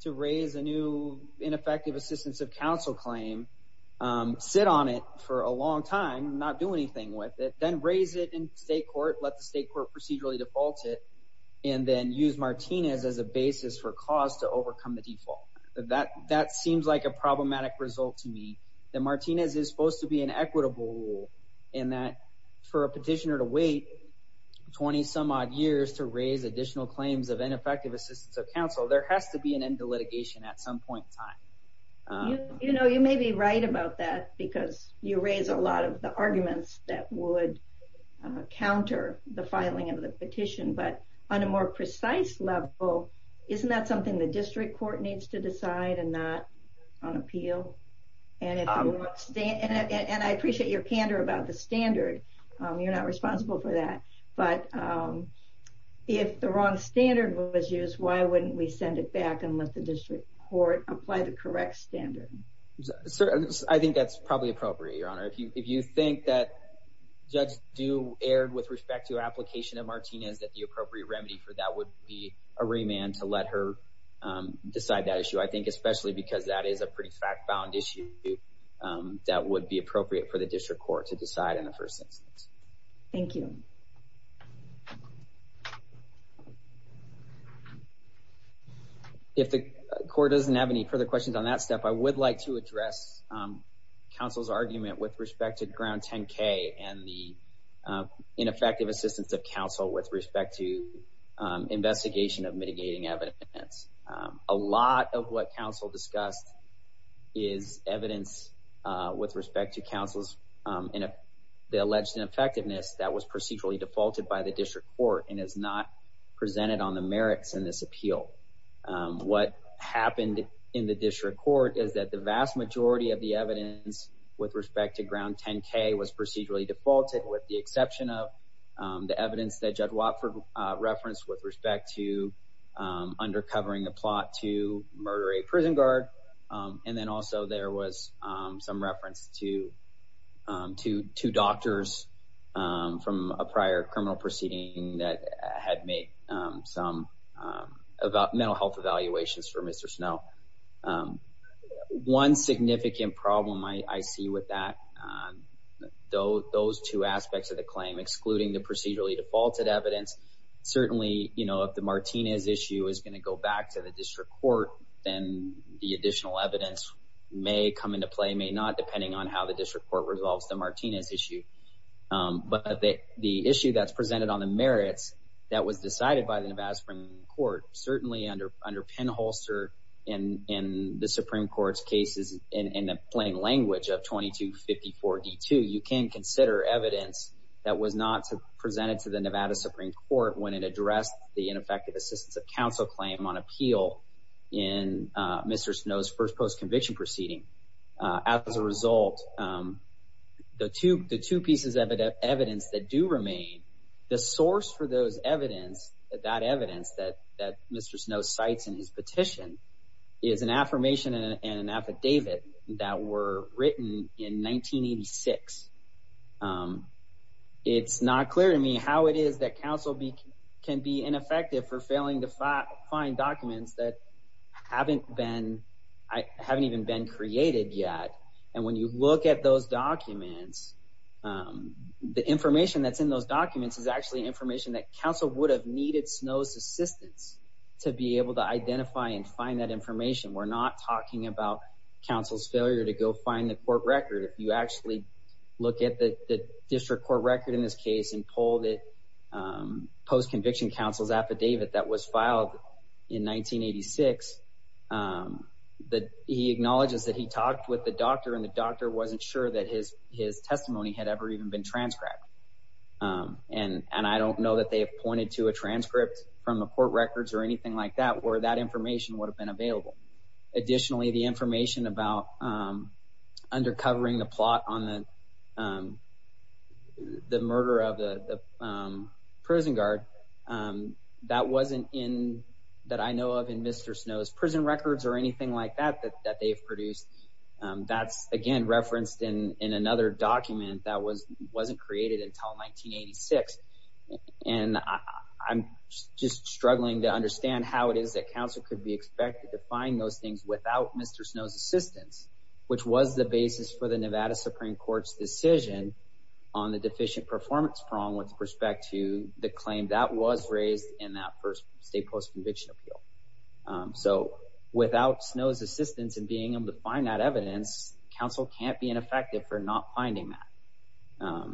to raise a new ineffective assistance of counsel claim, sit on it for a long time, and then raise it in state court, let the state court procedurally default it, and then use Martinez as a basis for cause to overcome the default. That seems problematic to me. Martinez is supposed to be an equitable I think there's arguments that would counter the filing of the petition, but on a more precise level, isn't that something the district court needs to decide and not on appeal? And I appreciate your candor about the standard. You're not responsible for that. But if the wrong standard was used, why wouldn't we send it back and let the district court apply the correct standard? I think that's probably appropriate, your honor. If you think that the appropriate remedy for that would be a remand to let her decide that issue, I think especially because that is a pretty fact-bound issue that would be appropriate for the district court to decide in the first instance. Thank you. If the court doesn't have any further questions on that step, I would like to address counsel's argument with respect to ground 10 K and the ineffective assistance of counsel with respect to investigation of mitigating evidence. A lot of what counsel discussed is evidence with respect to counsel's alleged ineffectiveness that was procedurally defaulted by the district court and is not presented on the merits in this appeal. What happened in the district court is that the vast majority of the evidence with respect to ground 10 K was procedurally defaulted with the exception of the evidence that Judge Watford presented with respect to under covering the plot to murder a prison guard. And there was some reference to two doctors from a prior criminal proceeding that had made some mental health evaluations for Mr. Snow. One significant problem I see with that, those two aspects of the claim excluding the procedurally defaulted evidence, certainly if the Martinez issue is going to go back to the district court, then the additional evidence may come into play, may not, depending on how the district court resolves the issue. But the issue presented on the merits that was decided by the Nevada Supreme Court, certainly under pinholster in the Supreme Court's case, you can consider evidence that was not presented to the Nevada Supreme Court when it addressed the ineffective assistance of counsel claim on appeal in Mr. Snow's first post conviction proceeding. As a result, the two pieces of evidence that do remain, the source for those evidence, that evidence that Mr. Snow cites in his petition, is an affirmation and an affidavit that were written in 1986. It's not clear to me how it is that counsel can be ineffective for failing to find documents that haven't been created yet. When you look at those documents, the information that's in those documents is actually information that counsel would have needed Snow's assistance to be able to identify and find that information. We're not talking about counsel's failure to go find the court record. If you look at the district court record and pull the affidavit that was filed in 1986, he acknowledges that he talked with the doctor and the doctor wasn't sure that his testimony had been transcribed. I don't know that they have pointed to a transcript where that information would have been available. Additionally, the information about under covering the plot on the murder of the prison guard, that wasn't in Mr. Snow's testimony. you look at the prison records or anything like that, that's referenced in another document that wasn't created until 1986. I'm struggling to understand how it is that counsel could be expected to find those things without Mr. Snow's assistance, which was the basis for the Nevada Supreme Court's decision on the deficient performance prong with respect to the claim that was raised in that first state post-conviction appeal. So, without Snow's assistance in being able to find that evidence, counsel can't be ineffective for not finding that.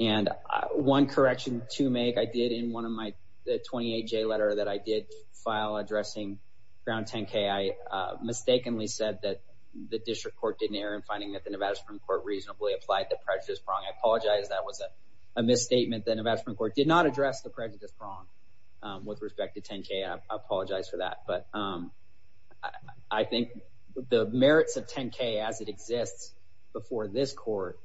And one correction to make, I did in one of my 28-J letter that I did file addressing ground 10-K, I mistakenly said that the district court did not address the prejudice prong with respect to 10-K. I apologize for that. But, I think the merits of 10-K as it exists before this court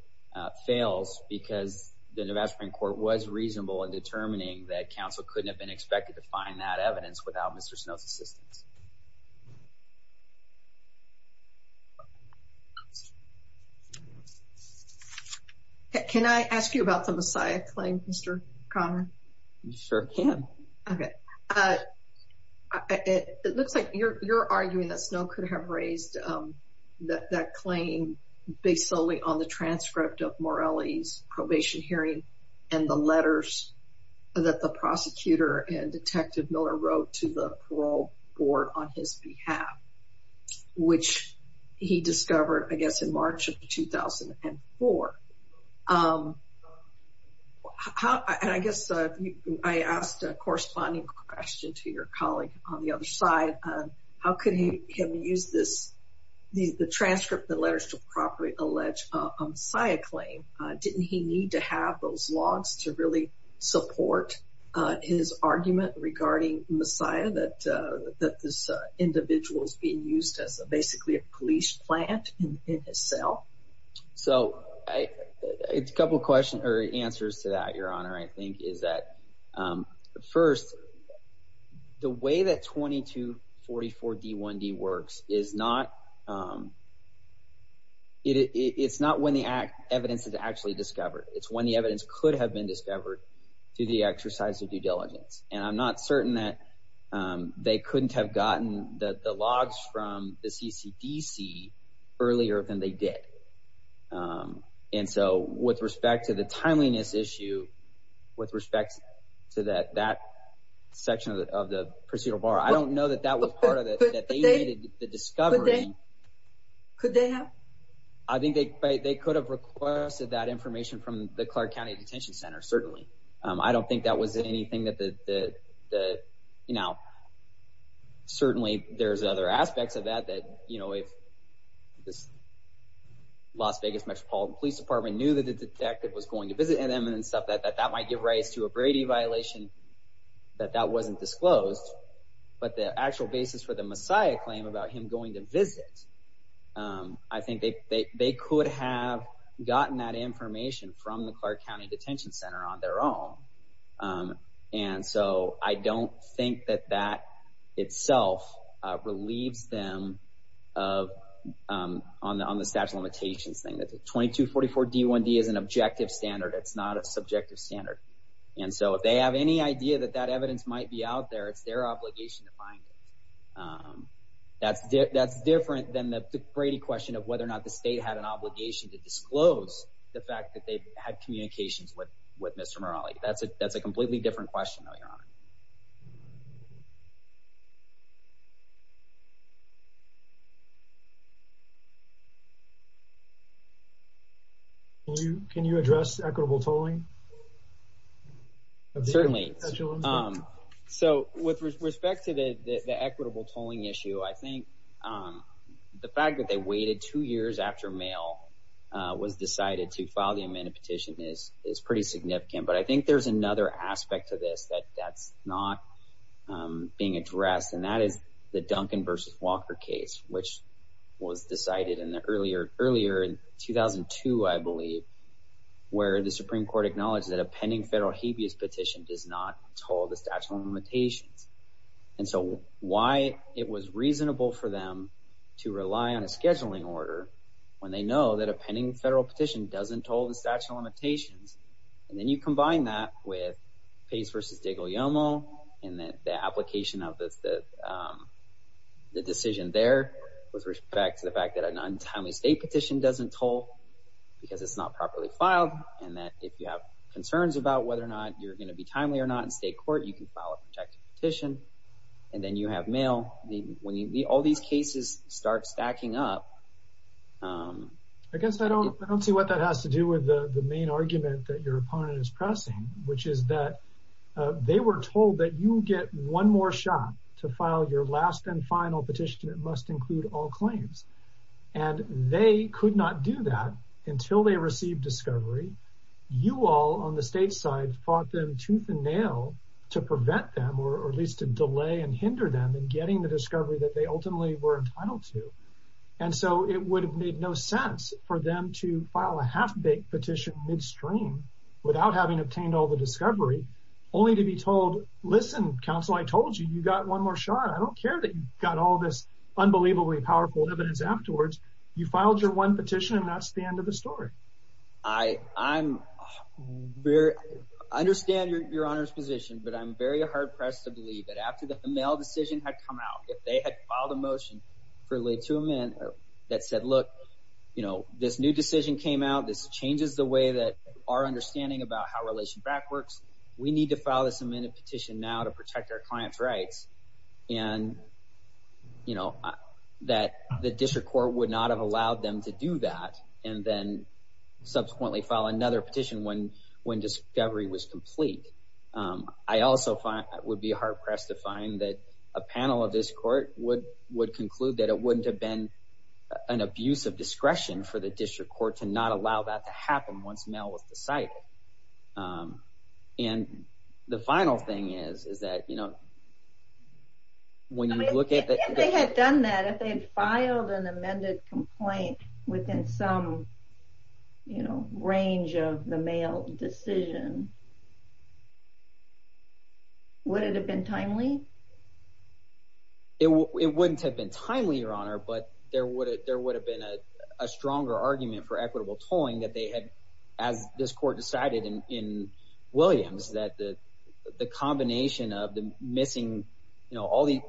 fails because the Nevada Supreme Court was reasonable in determining that counsel couldn't have been expected to find that evidence without Mr. Snow's help. Thank you. Can I ask you about Messiah Mr. Connor? CHUCK CONNOR Sure can. DEBRA COHEN OK. It looks like you're arguing Snow could have raised that claim based solely on the transcript of Morelli's probation hearing and the evidence on his behalf which he discovered in March of 2004. I guess I asked a corresponding question to your colleague on the other side. How could he have used the transcript of the letters to Snow in March 2004? CHUCK CONNOR I the answer to that question. I don't know the answer to that question. I don't know the answer to question. CHUCK GREG CAN YOU ADDRESS EQUITABLE TOLLING? CHUCK The fact they waited two years after that was decided to file the amendment is pretty significant. But I think there's another aspect of this that's not being addressed and that is the Duncan v. Walker case which was decided earlier in 2002, I believe, where the Supreme Court acknowledged that a pending federal habeas petition does not toll the statute of exceptional limitations. And then you combine that with Pace v. DiGuglielmo and the application of the decision there with respect to the fact that a non-timely state petition doesn't toll because it's not properly filed and that if you have concerns about whether or not you're going to be timely or not in state court, you can file a non-timely And that's the main argument that your opponent is pressing which is that they were told that you get one more shot to file your last and final petition that must include all claims. And they could not do that until they received discovery. You all on the state side fought them tooth and nail to prevent them or at least to delay and hinder them in getting the discovery that they ultimately were entitled to. And so it would have made no sense for them to file a half-baked petition midstream without having obtained all the discovery only to be told, listen, counsel, I told you, you got one more shot. I don't care that you got all this unbelievably powerful evidence afterwards. You filed your one petition and that's the end of the story. I'm very understand your honor's position but I'm very hard pressed to believe that after the mail decision had come out, if they had filed a motion that said look, this new decision came this changes the way our understanding about how relation back works, we need to file this petition now to protect our client's rights and that the district court would not have allowed them to do that and subsequently file another petition when discovery was complete. I also would be hard pressed to find that a panel of this court would conclude that it wouldn't have been an abuse of discretion for the district court to not allow that to happen once mail was decided. And the final thing is that when you look at that if they filed an amended complaint within some range of the mail decision, would it have been timely? It wouldn't have been timely, your honor, but there would have been a stronger argument for equitable tolling.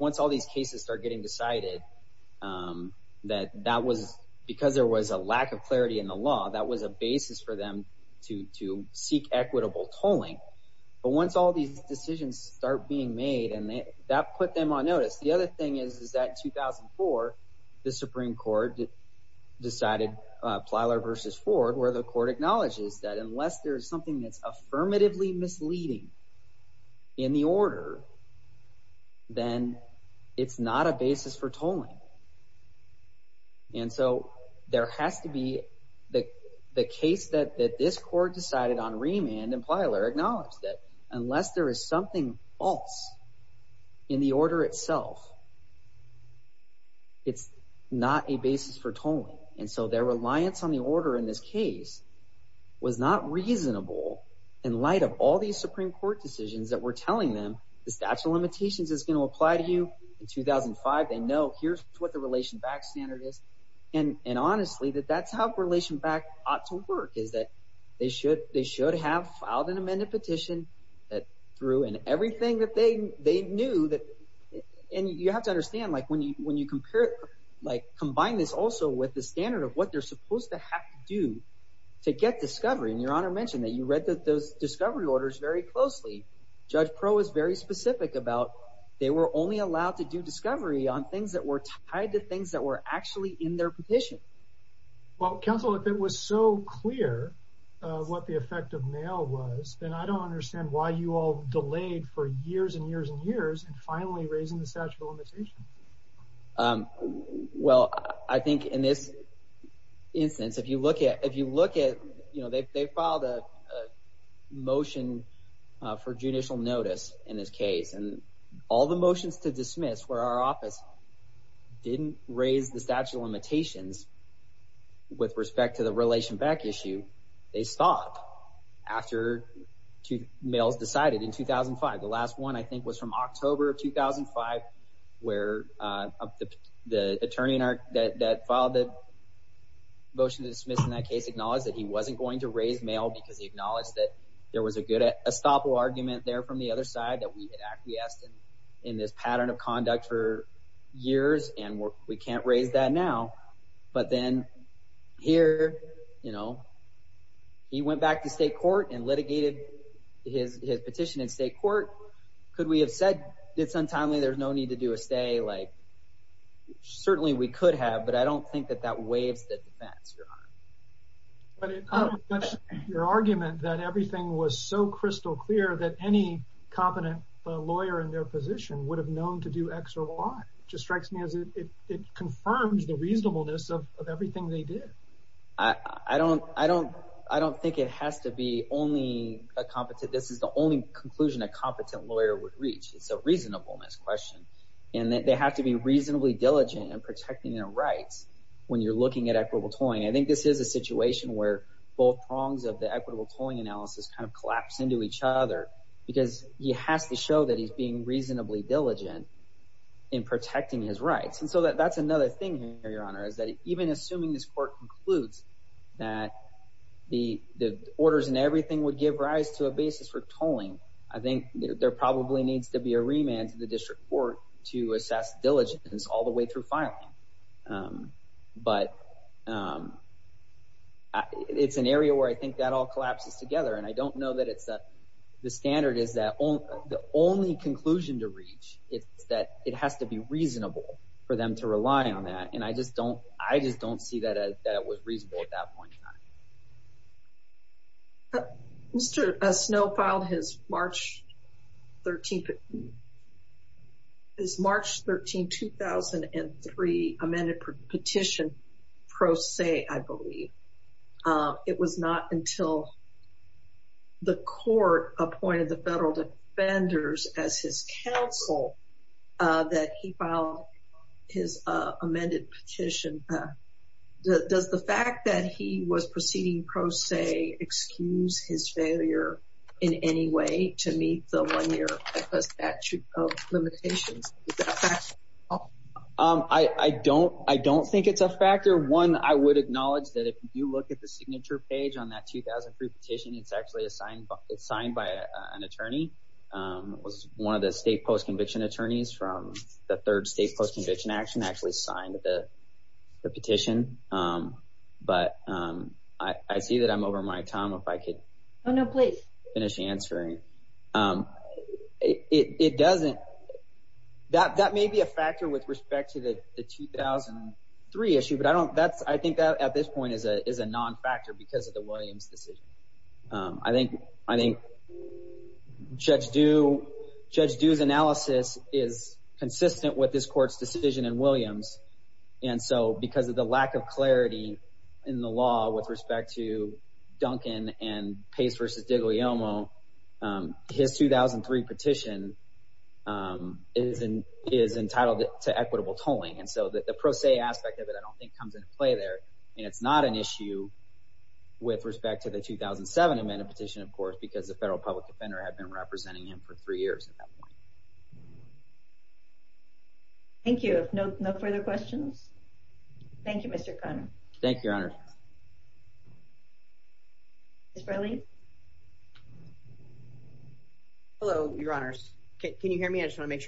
Once all these cases started getting decided, because there was a lack of clarity in the law, that was a basis for them to seek equitable tolling. But once all these decisions started being made, that put them on notice. The other thing is that in 2004, the Supreme Court decided Plylar v. Ford, where the court acknowledges that unless there's something that's affirmatively misleading in the order, then it's not a basis for tolling. And so their reliance on the order in this case was not reasonable in light of all these Supreme Court decisions that were telling them the statute of limitations is going to apply to you. In 2005, they know here's what the Relation Back standard is. And honestly, that's how Relation Back ought to work, is that they should have filed an amended petition that threw in everything that they knew. And you have to understand, when you combine this also with the standard of what they're supposed to have to do to get discovery, and Your Honor mentioned that you read those discovery orders very closely. Judge Pro is very specific about they were only allowed to do discovery on things that were tied to things that were actually in their petition. Well, Counsel, if it was so clear what the effect of mail was, then I don't understand why you all delayed for years and years and years and finally raising the statute of limitations. Well, I think in this instance, if you look at, you know, they filed a motion for judicial notice in this case, and all the motions to dismiss where our office didn't raise the statute of limitations with respect to the relation back issue, they stopped after two mails decided in 2005. The last one, I think, was from October of 2005, where the attorney that filed the motion to dismiss in that case acknowledged that he wasn't going to raise mail because he acknowledged that there was a good argument there from the other side that we had acquiesced in this pattern of conduct for years and we can't raise that now, but then here, you know, he went back to state court and litigated his petition in state court. Could we have said it's untimely, there's no need to do a motion to dismiss in this way? Certainly, we could have, but I don't think that waves the defense, Your Honor. Your argument that everything was so crystal clear that any competent lawyer in their position would have known to do X or Y strikes me as it confirms the reasonableness of everything they did. I don't think it has to be only a competent, this is the only conclusion a competent lawyer would reach, it's a reasonableness question, and that they have to be reasonably diligent in protecting their rights when you're looking at equitable tolling. I think this is a situation where both prongs of the equitable tolling analysis collapse into each other because he has to show that he's being reasonably diligent in protecting his rights. So that's another thing here, Your Honor, that even assuming this court concludes that the orders and everything would give rise to a basis for tolling, I think there probably needs to be a remand to the district court to assess diligence all the way through filing. But it's an area where I think that all collapses together, and I don't know that the standard is that the only conclusion to reach is that it has to be reasonable for them to rely on that, and I just don't see that that was reasonable at that point in time. Mr. Snow filed his March 13, his March 13, 2003 amended petition I believe. It was not until the court appointed the federal defenders as his counsel that he filed his amended petition pro se Does the fact that he was proceeding pro se excuse his failure in any way to meet the one year statute of limitations? I don't think it's a factor. One, I would acknowledge that if you look at the signature page on that 2003 petition, it's actually signed by an attorney. It was one of the state post conviction attorneys who actually signed the petition. But I see that I'm over my time. If I could finish answering. It doesn't that may be a factor with respect to the 2003 issue, but I think that at this point is a non-factor because of the Williams decision. I think Judge Dew's analysis is consistent with this court's decision in Williams. And so because of the lack of clarity in the law with respect to Duncan and Pace versus Digliomo, his 2003 petition is entitled to equitable tolling. So the pro se aspect of it I don't think comes into play there. And it's not an issue with respect to the 2007 amendment petition because the federal public defender had been representing him for three years at that point. No further questions? Thank you, Mr. Conner. Thank you, Your Honor. Hello, Your Honors. Can you hear me? I just want to say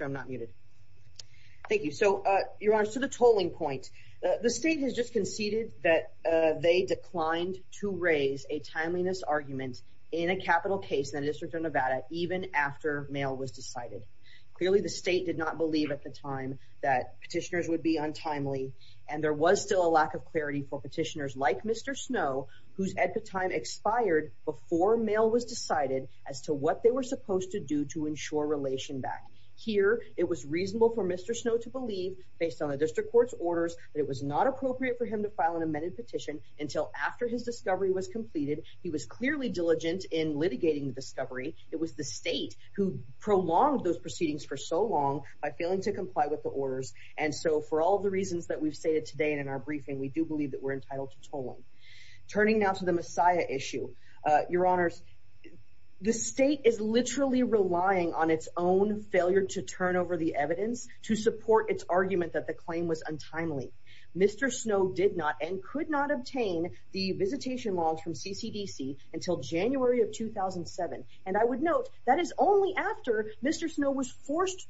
that they declined to raise a timeliness argument in a capital case in the District of Nevada even after mail was decided. Clearly the state did not believe at the time that petitioners would be untimely and there was still a lack of clarity for petitioners like Mr. Snow whose expired before mail was decided. He was clearly diligent in litigating the discovery. It was the state who prolonged those proceedings for so long by failing to comply with the orders. For all the reasons we stated today and in our briefing, we believe we are entitled to tolling. Turning to the Messiah issue, Your Honors, the state is literally relying on Mr. Snow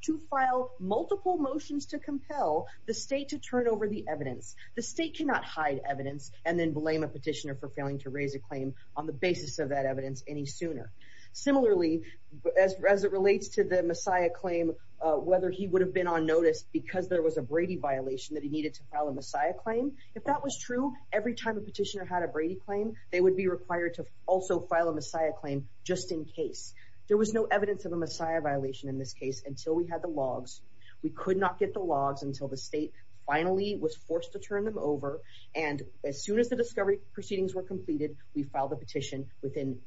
to file multiple motions to compel the state to turn over the evidence. The state cannot hide evidence and then blame a petitioner for failing to raise a claim on the basis of that evidence any sooner. Similarly, as it relates to the Messiah claim, whether he would have been on notice because there was a petition, every time a petitioner had a Brady claim, they would be required to file a Messiah claim just in case. There was no evidence of a Messiah violation in this case until we had the logs. We could not get the logs until the state finally was forced to turn them over. As soon as the proceedings were completed, we filed the petition within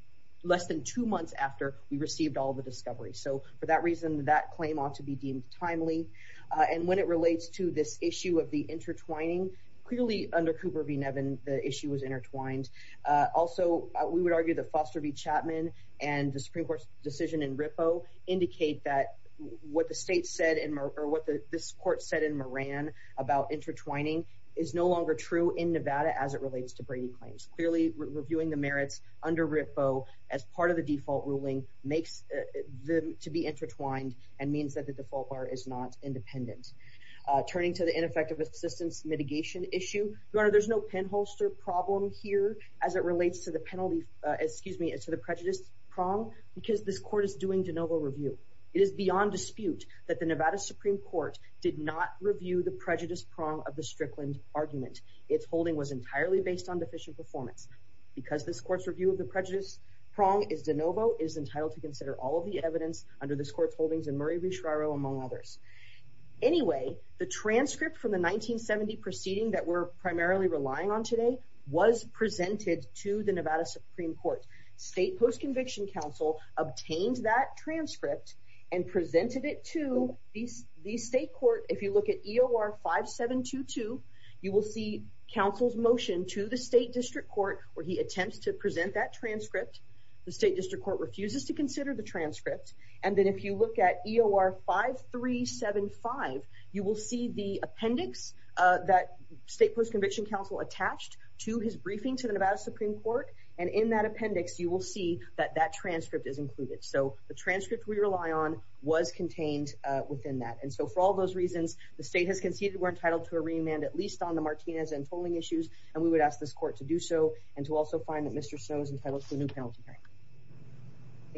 less than two months after we received the discovery. For that reason, that claim ought to be deemed timely. When it relates to this issue of the intertwining, clearly under Cooper v. Nevin, the issue was intertwined. We would argue that Foster v. Chapman and the merits under RIPPO as part of the default ruling is not independent. Turning to the ineffective assistance issue, there is no penholster problem here because this court is doing de novo review. It is beyond dispute that the court is doing de novo review.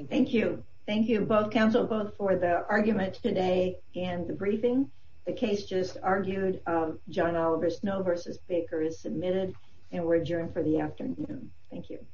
Thank you. Thank you, counsel, both for the argument today and the briefing. The case just argued is submitted and we are adjourned for the afternoon. Thank you.